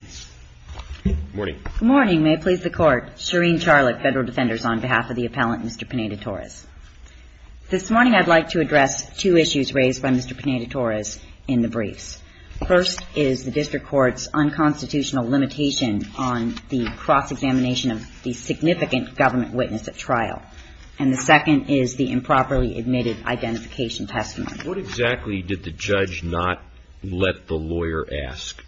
This morning I'd like to address two issues raised by Mr. Pineda-Torres in the briefs. First is the District Court's unconstitutional limitation on the cross-examination of the significant government witness at trial. And the second is the improperly admitted identification testimony. What exactly did the judge not let the lawyer ask? PINEDA-TORRES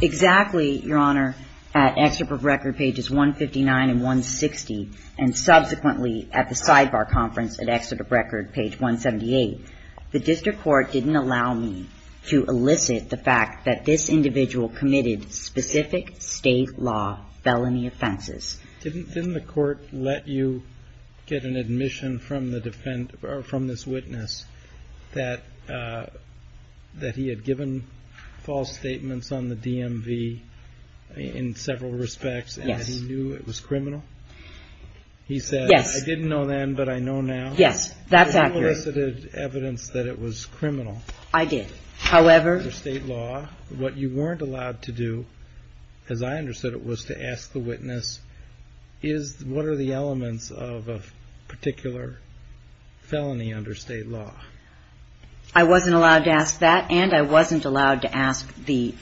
Exactly, Your Honor, at Excerpt of Record, pages 159 and 160, and subsequently at the sidebar conference at Excerpt of Record, page 178, the District Court didn't allow me to elicit the fact that this individual committed specific state law felony offenses. of the defendant or from this witness that he had given false statements on the DMV in several respects and that he knew it was criminal? He said I didn't know then, but I know now. You elicited evidence that it was criminal under state law. What you weren't allowed to do, as I understood it, was to ask the witness is what are the elements of a particular felony under state law? I wasn't allowed to ask that, and I wasn't allowed to ask the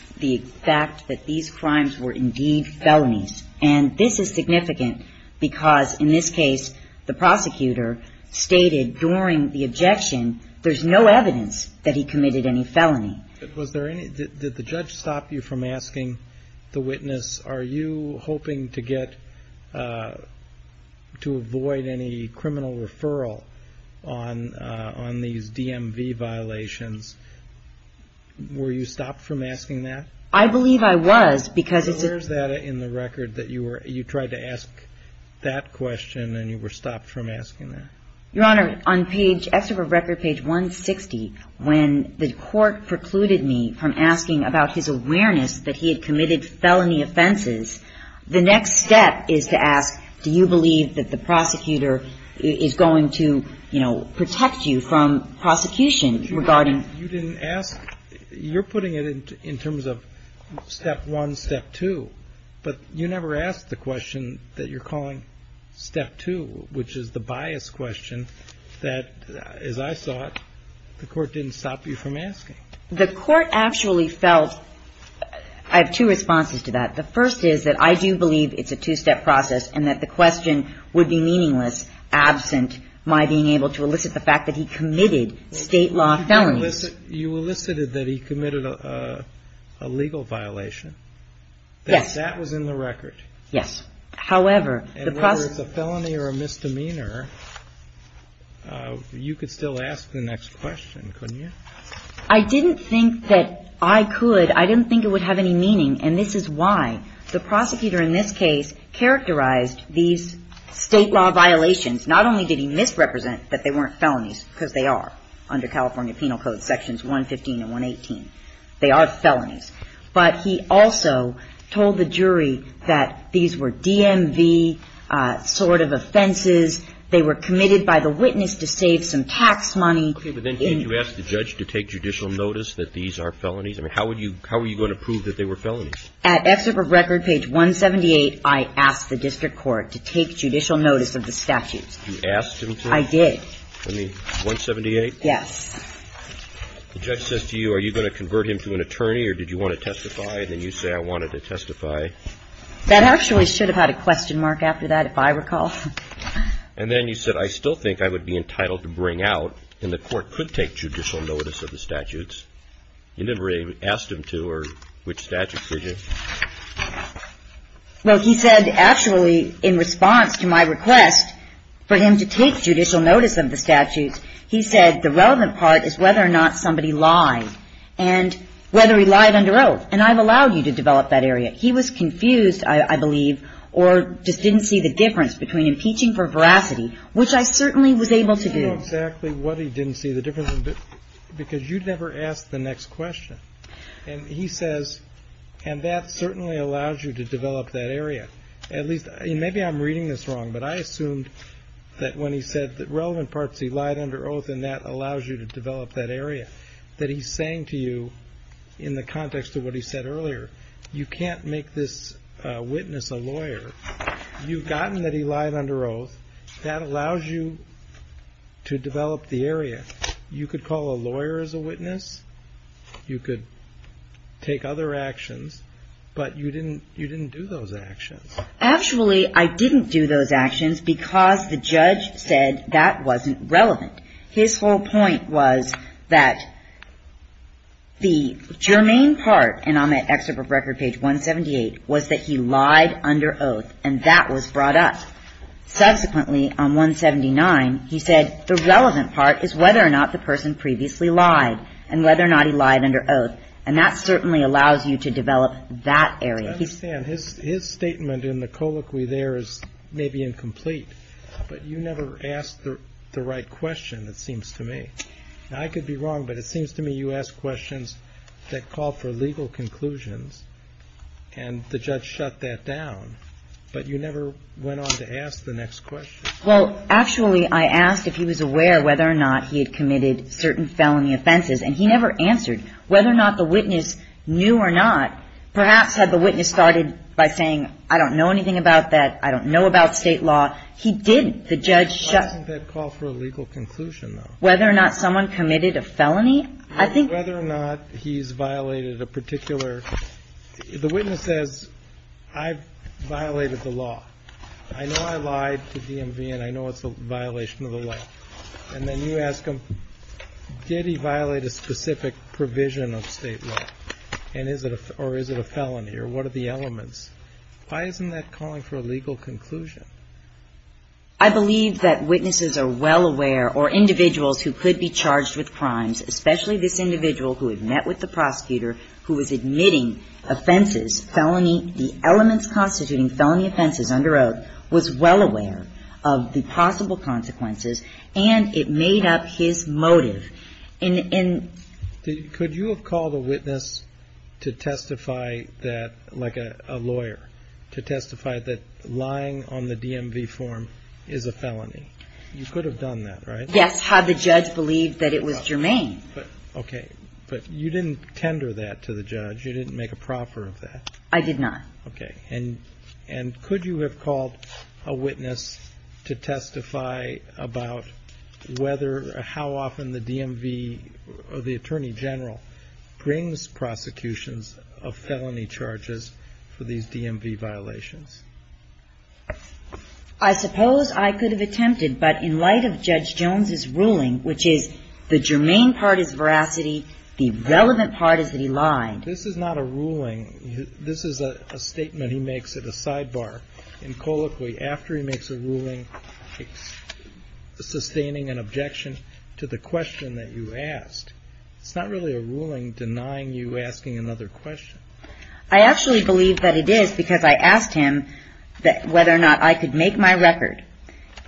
fact that these crimes were indeed felonies. And this is significant because, in this case, the prosecutor stated during the objection there's no evidence that he committed any felony. Was there any, did the judge stop you from asking the witness are you hoping to get, to avoid any criminal referral on these DMV violations? Were you stopped from asking that? I believe I was because it's a Where is that in the record that you were, you tried to ask that question and you were stopped from asking that? Your Honor, on page, excerpt of record page 160, when the court precluded me from asking about his awareness that he had committed felony offenses, the next step is to ask do you believe that the prosecutor is going to, you know, protect you from prosecution regarding You didn't ask, you're putting it in terms of step one, step two, but you never asked the question that you're calling step two, which is the bias question that, as I saw it, the court didn't stop you from asking. The court actually felt, I have two responses to that. The first is that I do believe it's a two-step process and that the question would be meaningless absent my being able to elicit the fact that he committed state law felonies. You elicited that he committed a legal violation. Yes. That was in the record. Yes. However, the And whether it's a felony or a misdemeanor, you could still ask the next question, couldn't you? I didn't think that I could. I didn't think it would have any meaning, and this is why. The prosecutor in this case characterized these state law violations. Not only did he misrepresent that they weren't felonies, because they are under California Penal Code Sections 115 and 118. They are felonies. But he also told the jury that these were DMV sort of offenses. They were committed by the witness to save some tax money. Okay. But then did you ask the judge to take judicial notice that these are felonies? I mean, how would you, how were you going to prove that they were felonies? At Excerpt of Record, page 178, I asked the district court to take judicial notice of the statutes. You asked him to? I did. I mean, 178? Yes. The judge says to you, are you going to convert him to an attorney, or did you want to testify? And then you say, I wanted to testify. That actually should have had a question mark after that, if I recall. And then you said, I still think I would be entitled to bring out, and the court could take judicial notice of the statutes. You never really asked him to or which statutes, did you? Well, he said, actually, in response to my request for him to take judicial notice of the statutes, he said the relevant part is whether or not somebody lied, and whether he lied under oath. And I've allowed you to develop that area. He was confused, I believe, or just didn't see the difference between impeaching for veracity, which I certainly was able to do. I don't know exactly what he didn't see the difference, because you never asked the next question. And he says, and that certainly allows you to develop that area. Maybe I'm reading this wrong, but I assumed that when he said the relevant parts, he lied under oath, and that allows you to develop that area, that he's saying to you, in the context of what he said earlier, you can't make this witness a lawyer. You've gotten that he lied under oath. That allows you to develop the area. You could call a lawyer as a witness. You could take other actions, but you didn't do those actions. Actually, I didn't do those actions because the judge said that wasn't relevant. His whole point was that the germane part, and I'm at Excerpt of Record, page 178, was that he lied under oath, and that was brought up. Subsequently, on 179, he said the relevant part is whether or not the person previously lied, and whether or not he lied under oath, and that certainly allows you to develop that area. I understand. His statement in the colloquy there is maybe incomplete, but you never asked the right question, it seems to me. Now, I could be wrong, but it seems to me you ask questions that call for legal conclusions, and the judge shut that down, but you never went on to ask the next question. Well, actually, I asked if he was aware whether or not he had committed certain felony offenses, and he never answered. Whether or not the witness knew or not, perhaps had the witness started by saying, I don't know anything about that, I don't know about State law, he didn't. The judge shut. I think that called for a legal conclusion, though. Whether or not someone committed a felony, I think. Whether or not he's violated a particular – the witness says, I violated the law. I know I lied to DMV, and I know it's a violation of the law. And then you ask him, did he violate a specific provision of State law, and is it a – or is it a felony, or what are the elements. Why isn't that calling for a legal conclusion? I believe that witnesses are well aware, or individuals who could be charged with crimes, especially this individual who had met with the prosecutor, who was admitting offenses, felony – the elements constituting felony offenses under oath, was well aware of the possible consequences, and it made up his motive. And – Could you have called a witness to testify that – like a lawyer to testify that lying on the DMV form is a felony? You could have done that, right? Yes. Had the judge believed that it was germane. Okay. But you didn't tender that to the judge. You didn't make a proffer of that. I did not. Okay. And could you have called a witness to testify about whether – how often the DMV – the Attorney General brings prosecutions of felony charges for these DMV violations? I suppose I could have attempted, but in light of Judge Jones's ruling, which is the germane part is veracity, the relevant part is that he lied. This is not a ruling. This is a statement he makes at a sidebar in colloquy after he makes a ruling, sustaining an objection to the question that you asked. It's not really a ruling denying you asking another question. I actually believe that it is because I asked him whether or not I could make my record.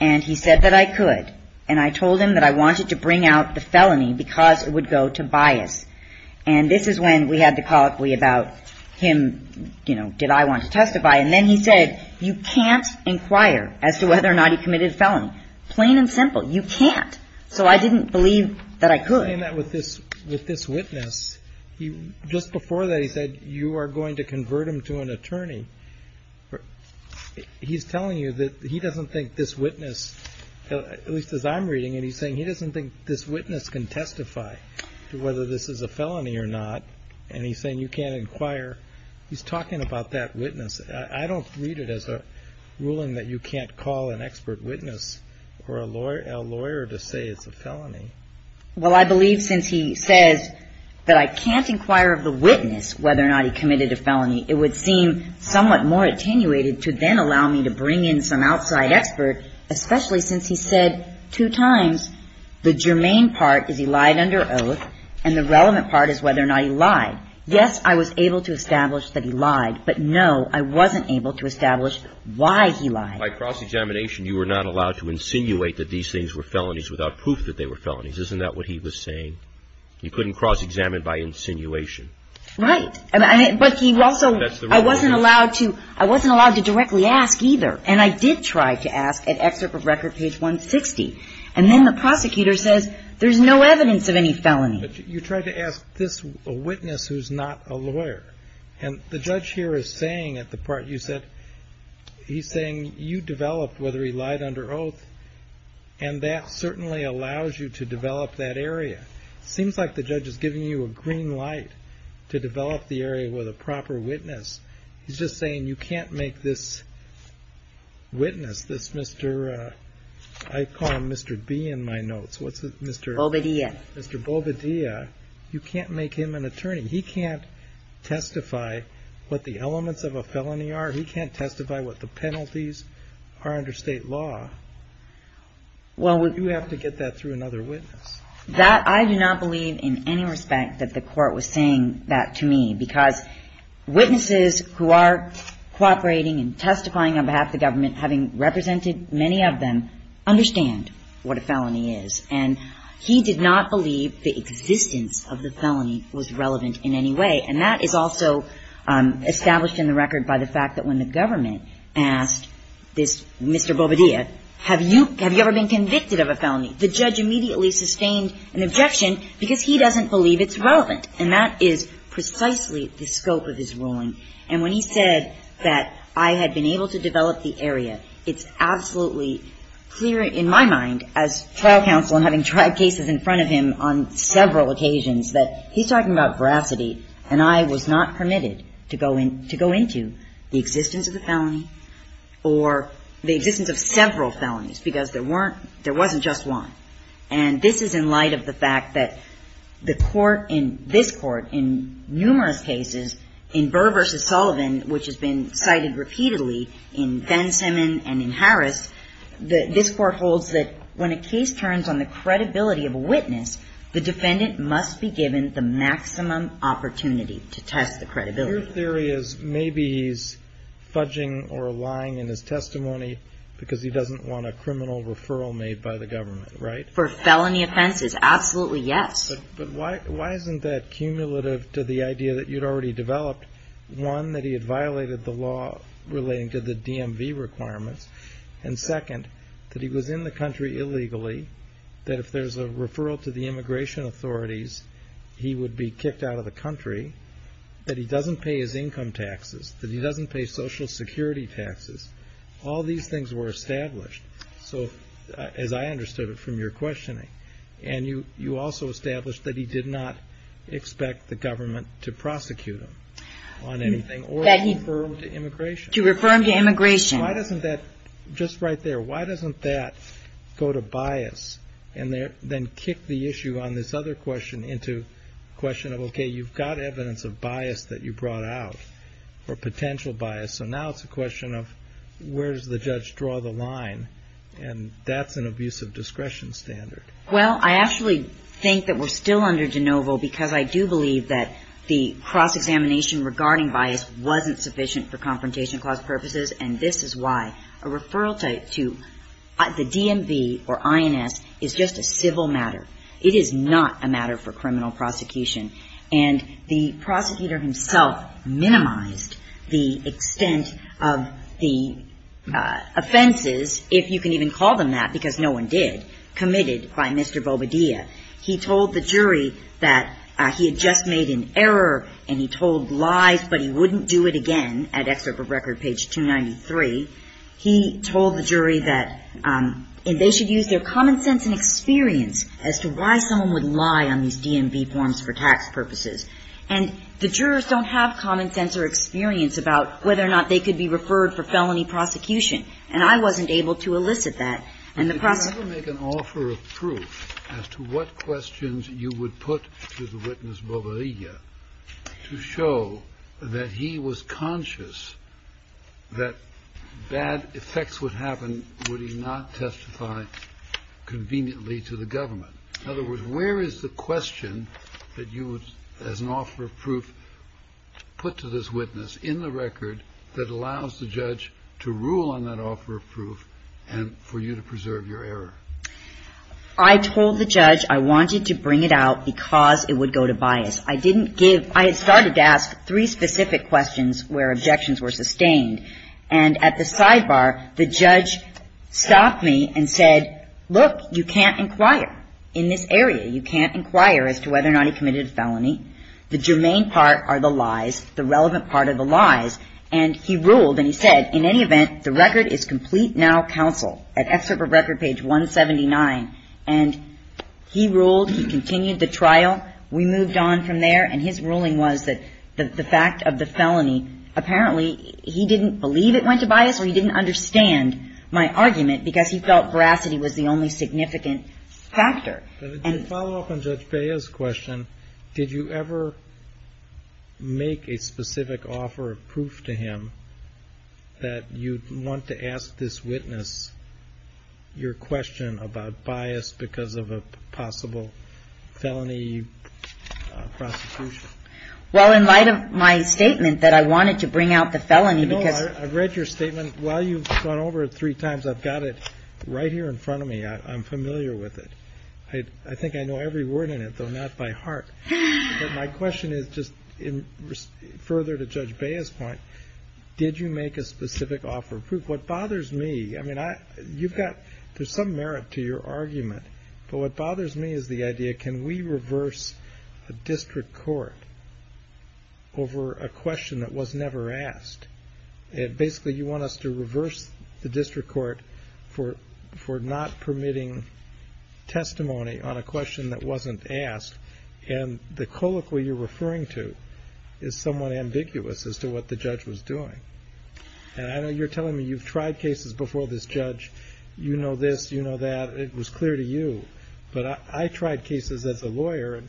And he said that I could. And I told him that I wanted to bring out the felony because it would go to bias. And this is when we had the colloquy about him, you know, did I want to testify. And then he said, you can't inquire as to whether or not he committed a felony. Plain and simple. You can't. So I didn't believe that I could. He's saying that with this witness, just before that he said you are going to convert him to an attorney. He's telling you that he doesn't think this witness, at least as I'm reading it, he's saying he doesn't think this witness can testify to whether this is a felony or not. And he's saying you can't inquire. He's talking about that witness. I don't read it as a ruling that you can't call an expert witness or a lawyer to say it's a felony. Well, I believe since he says that I can't inquire of the witness whether or not he committed a felony, it would seem somewhat more attenuated to then allow me to bring in some outside expert, especially since he said two times the germane part is he lied under oath and the relevant part is whether or not he lied. Yes, I was able to establish that he lied. But, no, I wasn't able to establish why he lied. By cross-examination, you were not allowed to insinuate that these things were felonies without proof that they were felonies. Isn't that what he was saying? He couldn't cross-examine by insinuation. Right. But he also, I wasn't allowed to, I wasn't allowed to directly ask either. And I did try to ask at excerpt of record page 160. And then the prosecutor says there's no evidence of any felony. But you tried to ask this witness who's not a lawyer. And the judge here is saying at the part you said, he's saying you developed whether he lied under oath, and that certainly allows you to develop that area. It seems like the judge is giving you a green light to develop the area with a proper witness. He's just saying you can't make this witness, this Mr. I call him Mr. B in my notes. What's his name? Bovedia. You can't make him an attorney. And he can't testify what the elements of a felony are. He can't testify what the penalties are under State law. You have to get that through another witness. That I do not believe in any respect that the Court was saying that to me. Because witnesses who are cooperating and testifying on behalf of the government, having represented many of them, understand what a felony is. And he did not believe the existence of the felony was relevant in any way. And that is also established in the record by the fact that when the government asked this Mr. Bovedia, have you ever been convicted of a felony? The judge immediately sustained an objection because he doesn't believe it's relevant. And that is precisely the scope of his ruling. And when he said that I had been able to develop the area, it's absolutely clear in my mind, as trial counsel and having tried cases in front of him on several occasions, that he's talking about veracity and I was not permitted to go into the existence of the felony or the existence of several felonies, because there weren't, there wasn't just one. And this is in light of the fact that the Court in this Court, in numerous cases, in Burr v. Sullivan, which has been cited repeatedly in Ben Simmons and in Harris, this Court holds that when a case turns on the credibility of a witness, the defendant must be given the maximum opportunity to test the credibility. Your theory is maybe he's fudging or lying in his testimony because he doesn't want a criminal referral made by the government, right? For felony offenses, absolutely yes. But why isn't that cumulative to the idea that you'd already developed, one, that he had violated the law relating to the DMV requirements, and second, that he was in the country illegally, that if there's a referral to the immigration authorities, he would be kicked out of the country, that he doesn't pay his income taxes, that he doesn't pay Social Security taxes. All these things were established. So, as I understood it from your questioning, and you also established that he did not expect the government to prosecute him on anything or to refer him to immigration. To refer him to immigration. Why doesn't that, just right there, why doesn't that go to bias and then kick the issue on this other question into a question of, okay, you've got evidence of bias that you brought out, or potential bias, so now it's a question of where does the judge draw the line, and that's an abuse of discretion standard. Well, I actually think that we're still under de novo because I do believe that the cross-examination regarding bias wasn't sufficient for Confrontation Clause purposes, and this is why a referral to the DMV or INS is just a civil matter. It is not a matter for criminal prosecution. And the prosecutor himself minimized the extent of the offenses, if you can even call them that, because no one did, committed by Mr. Bobadilla. He told the jury that he had just made an error, and he told lies but he wouldn't do it again at Excerpt of Record, page 293. He told the jury that they should use their common sense and experience as to why someone would lie on these DMV forms for tax purposes. And the jurors don't have common sense or experience about whether or not they could be referred for felony prosecution, and I wasn't able to elicit that. And the prosecutor ---- As to what questions you would put to the witness Bobadilla to show that he was conscious that bad effects would happen would he not testify conveniently to the government? In other words, where is the question that you would, as an offer of proof, put to this witness in the record that allows the judge to rule on that offer of proof and for you to preserve your error? I told the judge I wanted to bring it out because it would go to bias. I didn't give ---- I had started to ask three specific questions where objections were sustained. And at the sidebar, the judge stopped me and said, look, you can't inquire in this area. You can't inquire as to whether or not he committed a felony. The germane part are the lies, the relevant part are the lies. And he ruled, and he said, in any event, the record is complete now, counsel. At excerpt of record page 179. And he ruled, he continued the trial. We moved on from there. And his ruling was that the fact of the felony, apparently he didn't believe it went to bias or he didn't understand my argument because he felt veracity was the only significant factor. And ---- And to follow up on Judge Paya's question, did you ever make a specific offer of proof to him that you'd want to ask this witness your question about bias because of a possible felony prosecution? Well, in light of my statement that I wanted to bring out the felony because ---- I know. I've read your statement. While you've gone over it three times, I've got it right here in front of me. I'm familiar with it. I think I know every word in it, though not by heart. But my question is just further to Judge Paya's point, did you make a specific offer of proof? What bothers me, I mean, you've got some merit to your argument. But what bothers me is the idea, can we reverse a district court over a question that was never asked? Basically, you want us to reverse the district court for not permitting testimony on a question that wasn't asked. And the colloquy you're referring to is somewhat ambiguous as to what the judge was doing. And I know you're telling me you've tried cases before this judge. You know this. You know that. It was clear to you. But I tried cases as a lawyer, and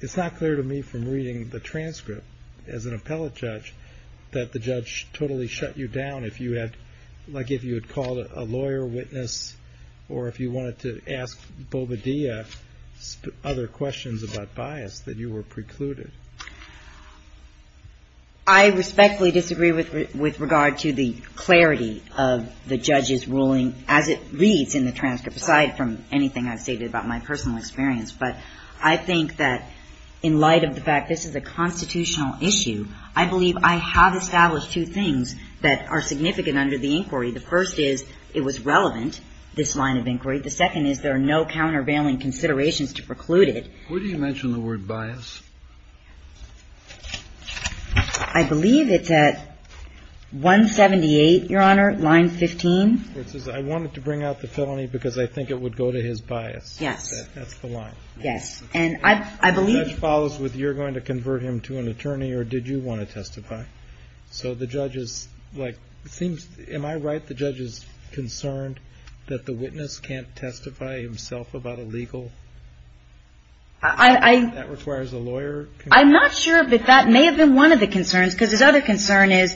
it's not clear to me from reading the transcript as an appellate judge that the judge totally shut you down if you had, like if you had called a lawyer, witness, or if you wanted to ask Bobadilla other questions about bias, that you were precluded. I respectfully disagree with regard to the clarity of the judge's ruling as it reads in the transcript, aside from anything I've stated about my personal experience. But I think that in light of the fact this is a constitutional issue, I believe I have established two things that are significant under the inquiry. The first is it was relevant, this line of inquiry. The second is there are no countervailing considerations to preclude it. Where do you mention the word bias? I believe it's at 178, Your Honor, line 15. It says, I wanted to bring out the felony because I think it would go to his bias. Yes. That's the line. Yes. And I believe the judge follows with you're going to convert him to an attorney or did you want to testify? Okay. So the judge is like, it seems, am I right, the judge is concerned that the witness can't testify himself about a legal? That requires a lawyer? I'm not sure, but that may have been one of the concerns, because his other concern is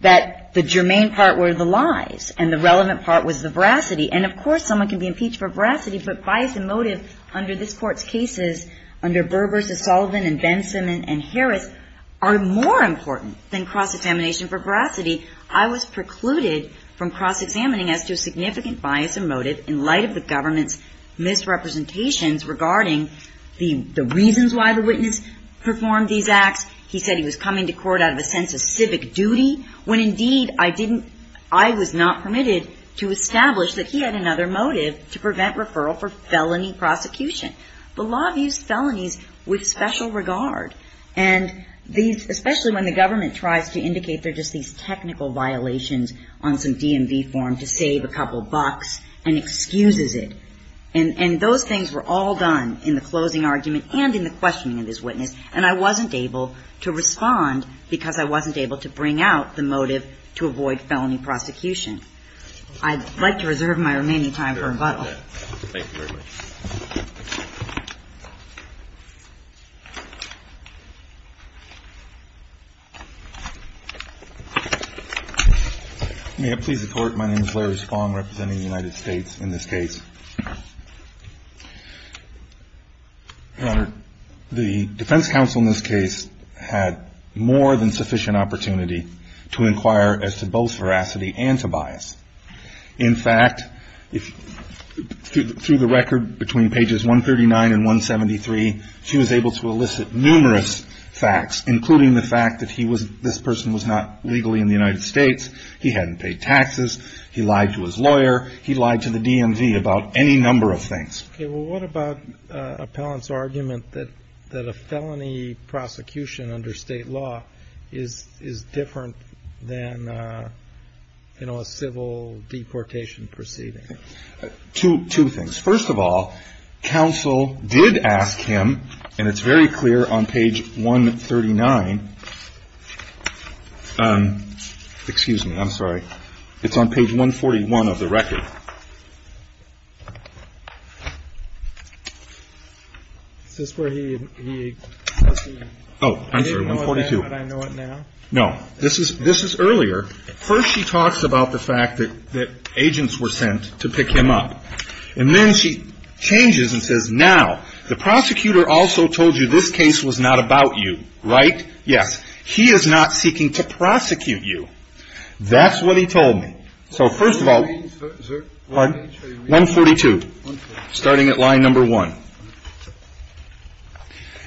that the germane part were the lies and the relevant part was the veracity. And of course someone can be impeached for veracity, but bias and motive under this Court's cases under Burr v. Sullivan and Benson and Harris are more important than cross-examination for veracity. I was precluded from cross-examining as to significant bias and motive in light of the government's misrepresentations regarding the reasons why the witness performed these acts. He said he was coming to court out of a sense of civic duty, when indeed I was not permitted to establish that he had another motive to prevent referral for felony prosecution. The law views felonies with special regard, and especially when the government tries to indicate they're just these technical violations on some DMV form to save a couple bucks and excuses it. And those things were all done in the closing argument and in the questioning of this witness, and I wasn't able to respond because I wasn't able to bring out the motive to avoid felony prosecution. I'd like to reserve my remaining time for rebuttal. Thank you very much. May it please the Court, my name is Larry Spong representing the United States in this case. Your Honor, the defense counsel in this case had more than sufficient opportunity to inquire as to both veracity and to bias. In fact, through the record between pages 139 and 173, she was able to elicit numerous facts, including the fact that this person was not legally in the United States, he hadn't paid taxes, he lied to his lawyer, he lied to the DMV about any number of things. Okay, well, what about appellant's argument that a felony prosecution under state law is different than, you know, a civil deportation proceeding? Two things. First of all, counsel did ask him, and it's very clear on page 139. Excuse me, I'm sorry. It's on page 141 of the record. Oh, I'm sorry, 142. No, this is earlier. First she talks about the fact that agents were sent to pick him up. And then she changes and says, now, the prosecutor also told you this case was not about you, right? Yes. He is not seeking to prosecute you. That's what he told me. So, first of all, 142, starting at line number one.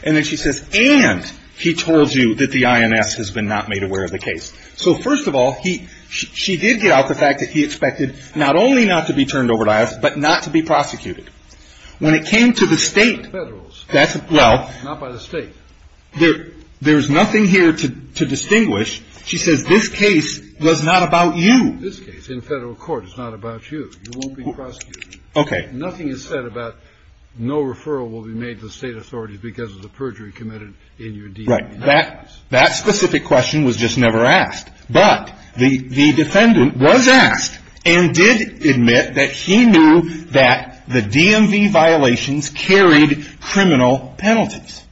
And then she says, and he told you that the INS has been not made aware of the case. So, first of all, she did get out the fact that he expected not only not to be turned over to us, but not to be prosecuted. When it came to the State, that's, well. Not by the State. There's nothing here to distinguish. She says this case was not about you. This case in Federal court is not about you. You won't be prosecuted. Okay. Nothing is said about no referral will be made to the State authorities because of the perjury committed in your defense. Right. That specific question was just never asked. But the defendant was asked and did admit that he knew that the DMV violations carried criminal penalties.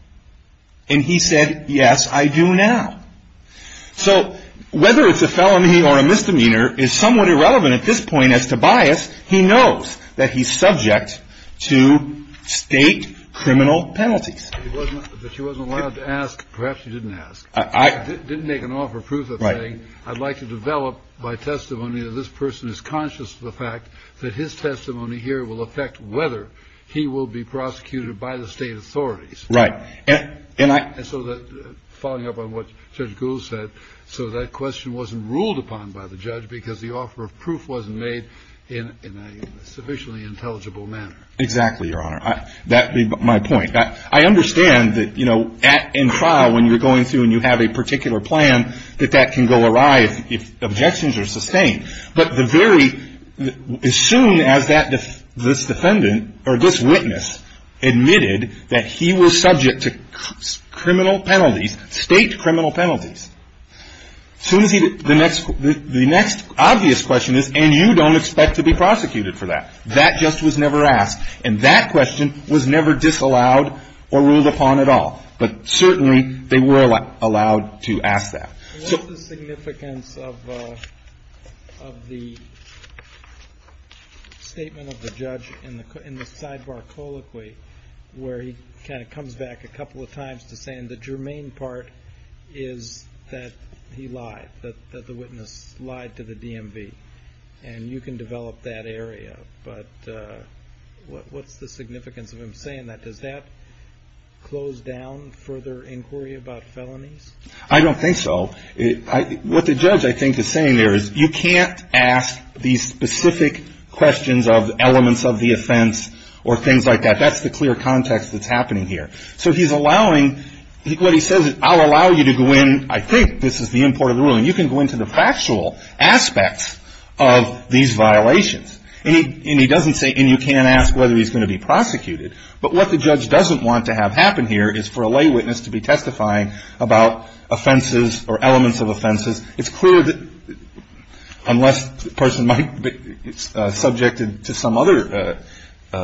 And he said, yes, I do now. So, whether it's a felony or a misdemeanor is somewhat irrelevant at this point as to bias. He knows that he's subject to State criminal penalties. But she wasn't allowed to ask. Perhaps she didn't ask. Didn't make an offer of proof of saying, I'd like to develop by testimony that this person is conscious of the fact that his testimony here will affect whether he will be prosecuted by the State authorities. Right. And so, following up on what Judge Gould said, so that question wasn't ruled upon by the judge because the offer of proof wasn't made in a sufficiently intelligible manner. Exactly, Your Honor. That would be my point. I understand that, you know, in trial, when you're going through and you have a particular plan, that that can go awry if objections are sustained. But the very, as soon as this defendant or this witness admitted that he was subject to criminal penalties, State criminal penalties, the next obvious question is, and you don't expect to be prosecuted for that. That just was never asked. And that question was never disallowed or ruled upon at all. But certainly, they were allowed to ask that. What's the significance of the statement of the judge in the sidebar colloquy where he kind of comes back a couple of times to say, and the germane part is that he lied, that the witness lied to the DMV, and you can develop that area. But what's the significance of him saying that? Does that close down further inquiry about felonies? I don't think so. What the judge, I think, is saying there is you can't ask these specific questions of elements of the offense or things like that. That's the clear context that's happening here. So he's allowing, what he says is, I'll allow you to go in, I think this is the import of the ruling, you can go into the factual aspects of these violations. And he doesn't say, and you can't ask whether he's going to be prosecuted. But what the judge doesn't want to have happen here is for a lay witness to be testifying about offenses or elements of offenses. It's clear that unless the person might be subjected to some other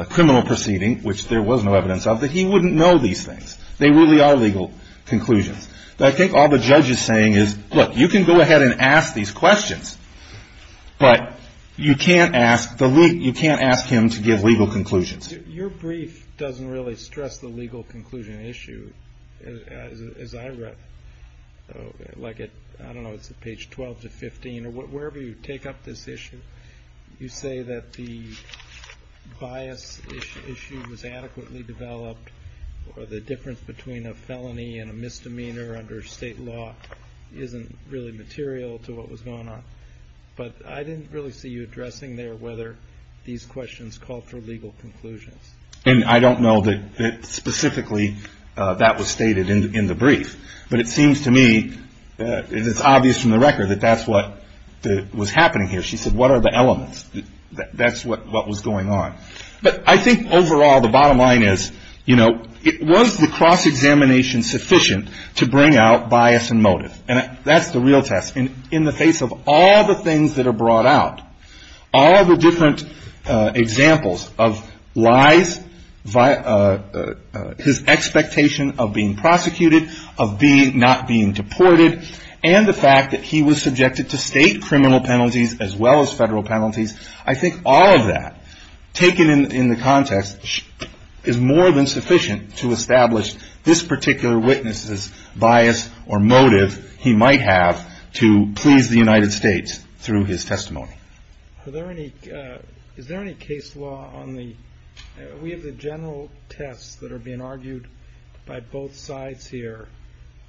criminal proceeding, which there was no evidence of, that he wouldn't know these things. They really are legal conclusions. I think all the judge is saying is, look, you can go ahead and ask these questions, but you can't ask him to give legal conclusions. Your brief doesn't really stress the legal conclusion issue, as I read. Like, I don't know, it's page 12 to 15, or wherever you take up this issue, you say that the bias issue was adequately developed, or the difference between a felony and a misdemeanor under state law isn't really material to what was going on. But I didn't really see you addressing there whether these questions call for legal conclusions. And I don't know that specifically that was stated in the brief. But it seems to me, it's obvious from the record, that that's what was happening here. She said, what are the elements? That's what was going on. But I think overall, the bottom line is, you know, it was the cross-examination sufficient to bring out bias and motive. And that's the real test. In the face of all the things that are brought out, all the different examples of lies, his expectation of being prosecuted, of not being deported, and the fact that he was subjected to state criminal penalties as well as federal penalties, I think all of that taken in the context is more than sufficient to establish this particular witness's bias or motive he might have to please the United States through his testimony. Is there any case law on the we have the general tests that are being argued by both sides here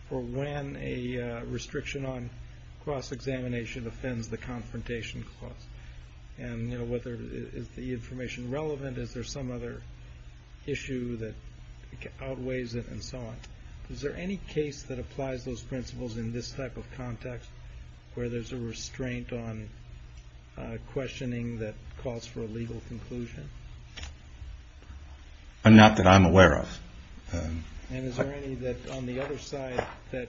for when a restriction on cross-examination offends the confrontation clause? And, you know, is the information relevant? Is there some other issue that outweighs it and so on? Is there any case that applies those principles in this type of context where there's a restraint on questioning that calls for a legal conclusion? Not that I'm aware of. And is there any on the other side that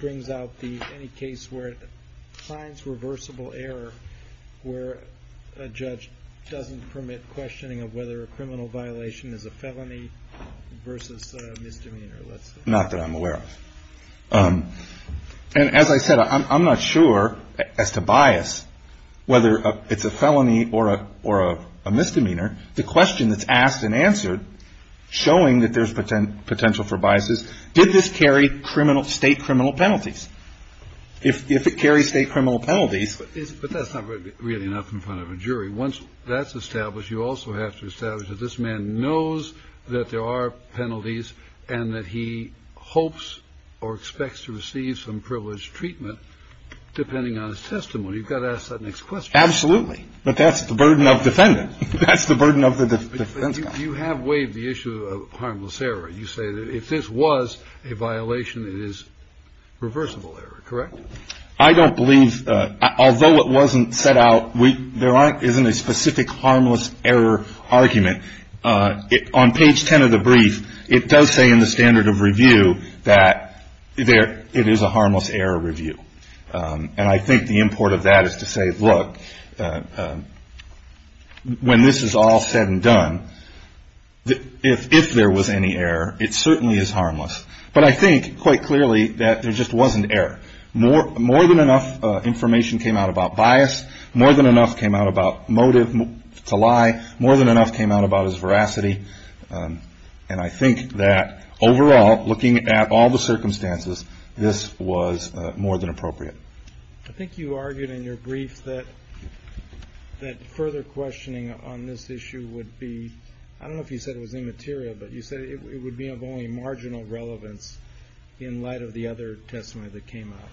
brings out any case where it finds reversible error where a judge doesn't permit questioning of whether a criminal violation is a felony versus a misdemeanor? Not that I'm aware of. And as I said, I'm not sure as to bias, whether it's a felony or a misdemeanor. The question that's asked and answered, showing that there's potential for biases, did this carry criminal state criminal penalties? If it carries state criminal penalties. But that's not really enough in front of a jury. Once that's established, you also have to establish that this man knows that there are penalties and that he hopes or expects to receive some privileged treatment depending on his testimony. You've got to ask that next question. Absolutely. But that's the burden of defendant. That's the burden of the defense. You have waived the issue of harmless error. You say that if this was a violation, it is reversible error, correct? I don't believe, although it wasn't set out, there isn't a specific harmless error argument. On page 10 of the brief, it does say in the standard of review that it is a harmless error review. And I think the import of that is to say, look, when this is all said and done, if there was any error, it certainly is harmless. But I think, quite clearly, that there just wasn't error. More than enough information came out about bias. More than enough came out about motive to lie. More than enough came out about his veracity. And I think that, overall, looking at all the circumstances, this was more than appropriate. I think you argued in your brief that further questioning on this issue would be, I don't know if you said it was immaterial, but you said it would be of only marginal relevance in light of the other testimony that came out.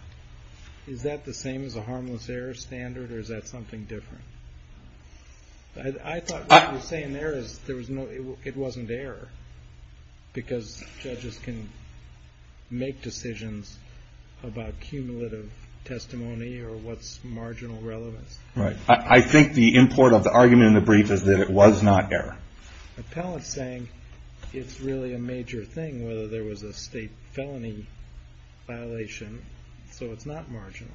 Is that the same as a harmless error standard, or is that something different? I thought what you're saying there is it wasn't error, because judges can make decisions about cumulative testimony or what's marginal relevance. Right. I think the import of the argument in the brief is that it was not error. The appellate's saying it's really a major thing whether there was a state felony violation, so it's not marginal.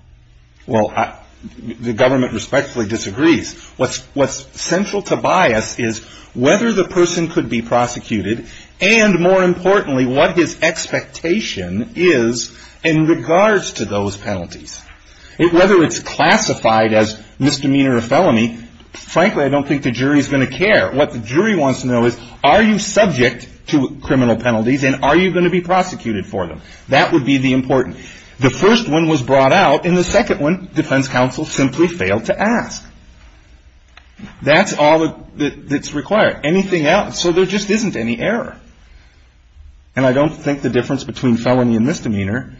Well, the government respectfully disagrees. What's central to bias is whether the person could be prosecuted, and, more importantly, what his expectation is in regards to those penalties. Whether it's classified as misdemeanor or felony, frankly, I don't think the jury's going to care. What the jury wants to know is, are you subject to criminal penalties, and are you going to be prosecuted for them? That would be the important. The first one was brought out, and the second one defense counsel simply failed to ask. That's all that's required. Anything else? So there just isn't any error. And I don't think the difference between felony and misdemeanor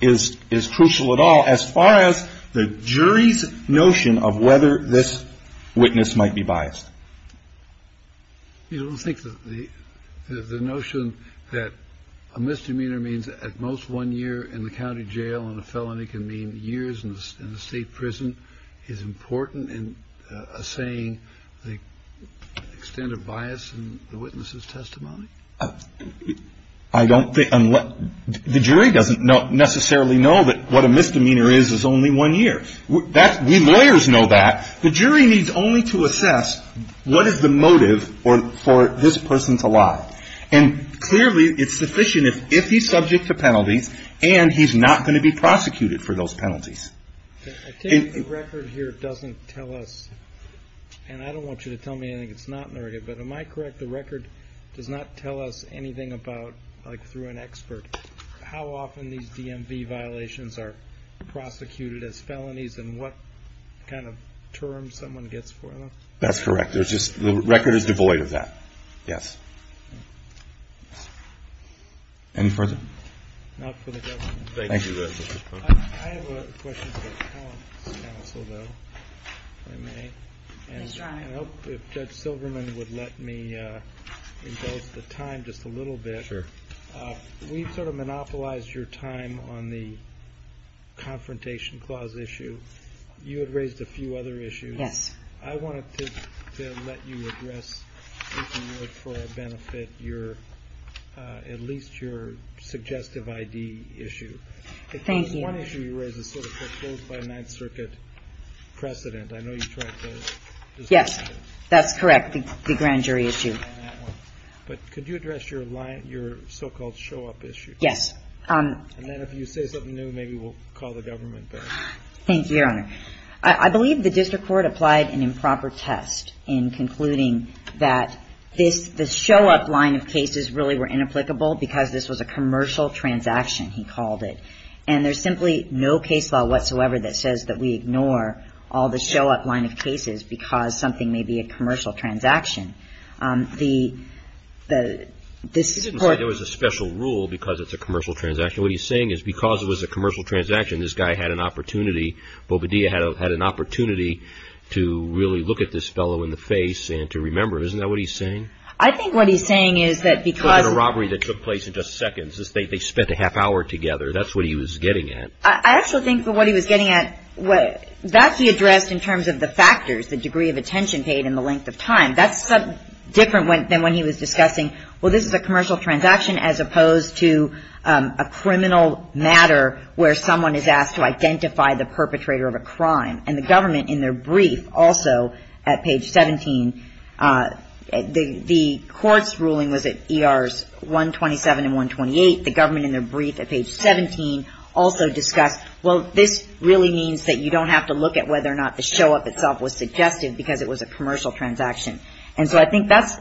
is crucial at all as far as the jury's notion of whether this witness might be biased. You don't think the notion that a misdemeanor means at most one year in the county jail and a felony can mean years in a state prison is important in saying the extent of bias in the witness's testimony? I don't think unless the jury doesn't necessarily know that what a misdemeanor is is only one year. We lawyers know that. The jury needs only to assess what is the motive for this person to lie. And clearly it's sufficient if he's subject to penalties and he's not going to be prosecuted for those penalties. I think the record here doesn't tell us, and I don't want you to tell me anything that's not in the record, but am I correct? The record does not tell us anything about, like through an expert, how often these DMV violations are prosecuted as felonies and what kind of terms someone gets for them? That's correct. The record is devoid of that. Yes. Any further? Not for the government. Thank you. I have a question for the counsel, though, if I may. Yes, Your Honor. And I hope if Judge Silverman would let me impose the time just a little bit. Sure. We've sort of monopolized your time on the confrontation clause issue. You had raised a few other issues. Yes. I wanted to let you address, if you would, for a benefit, at least your suggestive I.D. issue. Thank you. One issue you raised is sort of the closed-by-Ninth Circuit precedent. I know you tried to disagree with it. Yes, that's correct, the grand jury issue. But could you address your so-called show-up issue? Yes. And then if you say something new, maybe we'll call the government back. Thank you, Your Honor. I believe the district court applied an improper test in concluding that the show-up line of cases really were inapplicable because this was a commercial transaction, he called it. And there's simply no case law whatsoever that says that we ignore all the show-up line of cases because something may be a commercial transaction. This court ---- He didn't say there was a special rule because it's a commercial transaction. What he's saying is because it was a commercial transaction, this guy had an opportunity, Bobadilla had an opportunity to really look at this fellow in the face and to remember. Isn't that what he's saying? I think what he's saying is that because ---- It wasn't a robbery that took place in just seconds. They spent a half hour together. That's what he was getting at. I actually think what he was getting at, that's the address in terms of the factors, the degree of attention paid and the length of time. That's different than when he was discussing, well, this is a commercial transaction as opposed to a criminal matter where someone is asked to identify the perpetrator of a crime. And the government in their brief also at page 17, the court's ruling was at ERs 127 and 128. The government in their brief at page 17 also discussed, well, this really means that you don't have to look at whether or not the show-up itself was suggested because it was a commercial transaction. And so I think that's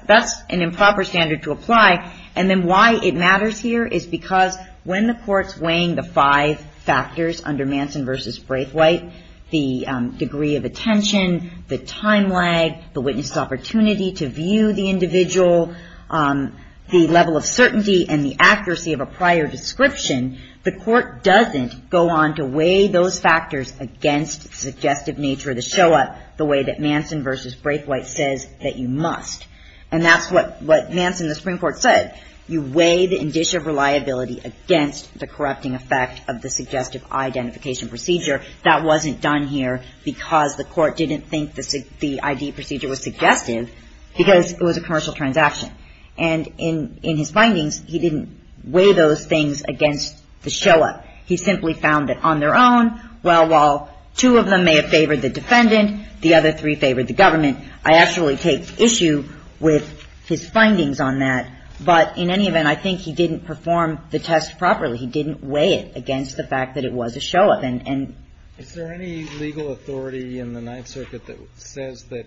an improper standard to apply. And then why it matters here is because when the court's weighing the five factors under Manson v. Braithwaite, the degree of attention, the time lag, the witness' opportunity to view the individual, the level of certainty and the accuracy of a prior description, the court doesn't go on to weigh those factors against suggestive nature of the show-up the way that Manson v. Braithwaite says that you must. And that's what Manson, the Supreme Court, said. You weigh the indicia of reliability against the corrupting effect of the suggestive identification procedure. That wasn't done here because the court didn't think the ID procedure was suggestive because it was a commercial transaction. And in his findings, he didn't weigh those things against the show-up. He simply found that on their own, well, while two of them may have favored the defendant, the other three favored the government. I actually take issue with his findings on that. But in any event, I think he didn't perform the test properly. He didn't weigh it against the fact that it was a show-up. And so any legal authority in the Ninth Circuit that says that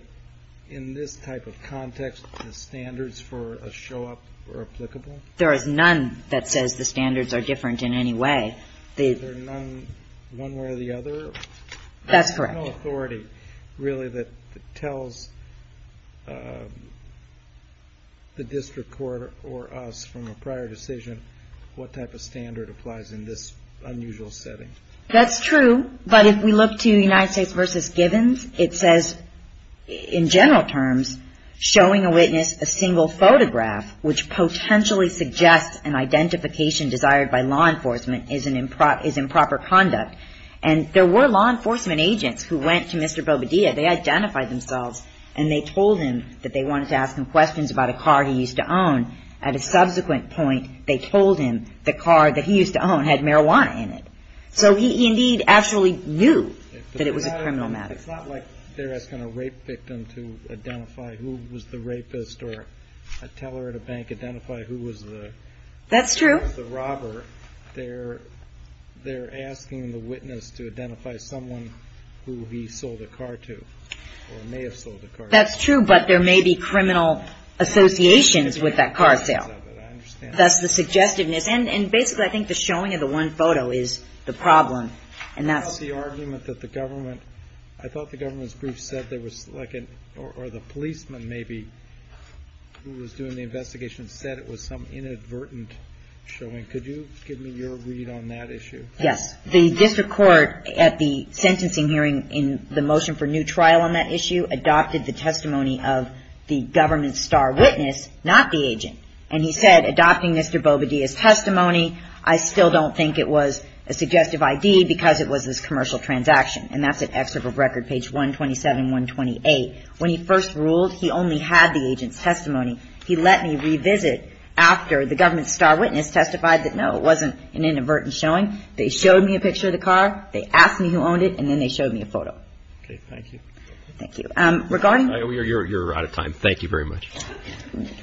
in this type of context, the standards for a show-up are applicable? There is none that says the standards are different in any way. Is there none one way or the other? That's correct. There's no authority, really, that tells the district court or us from a prior decision what type of standard applies in this unusual setting. That's true. But if we look to United States v. Givens, it says, in general terms, showing a witness a single photograph, which potentially suggests an identification desired by law enforcement is improper conduct. And there were law enforcement agents who went to Mr. Bobadilla. They identified themselves, and they told him that they wanted to ask him questions about a car he used to own. At a subsequent point, they told him the car that he used to own had marijuana in it. So he indeed absolutely knew that it was a criminal matter. It's not like they're asking a rape victim to identify who was the rapist or tell her at a bank, identify who was the robber. That's true. They're asking the witness to identify someone who he sold a car to or may have sold a car to. That's true, but there may be criminal associations with that car sale. I understand that. That's the suggestiveness. And basically, I think the showing of the one photo is the problem. And that's the argument that the government – I thought the government's brief said there was like an – or the policeman, maybe, who was doing the investigation said it was some inadvertent showing. Could you give me your read on that issue? Yes. The district court at the sentencing hearing in the motion for new trial on that issue adopted the testimony of the government's star witness, not the agent. And he said, adopting Mr. Bobadilla's testimony, I still don't think it was a suggestive ID because it was this commercial transaction. And that's at Excerpt of Record, page 127, 128. When he first ruled, he only had the agent's testimony. He let me revisit after the government's star witness testified that, no, it wasn't an inadvertent showing. They showed me a picture of the car. They asked me who owned it, and then they showed me a photo. Okay. Thank you. Thank you. Regarding – You're out of time. Thank you very much.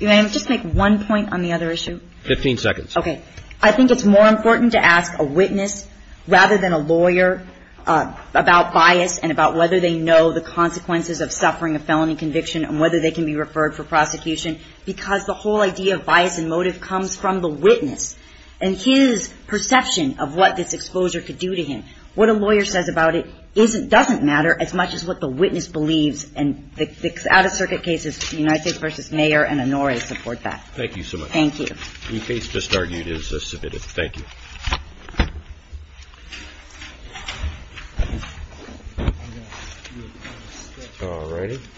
May I just make one point on the other issue? Fifteen seconds. Okay. I think it's more important to ask a witness, rather than a lawyer, about bias and about whether they know the consequences of suffering a felony conviction and whether they can be referred for prosecution. Because the whole idea of bias and motive comes from the witness and his perception of what this exposure could do to him. What a lawyer says about it doesn't matter as much as what the witness believes. And the out-of-circuit cases, United States v. Mayer and Honoré, support that. Thank you so much. Thank you. The case just argued is submitted. Thank you. Thank you. Thank you. Thanks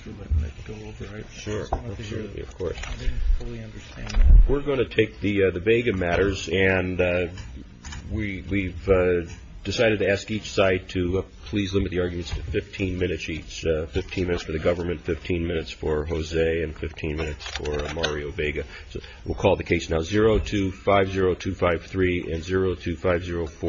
for letting me go over it. Sure. Of course. I didn't fully understand it. We're going to take the Vega matters and we've decided to ask each side to please limit the arguments to 15 minutes each. 15 minutes for the government, 15 minutes for Jose and 15 minutes for Mario Vega. So we'll call the case now 0250253 and 025049.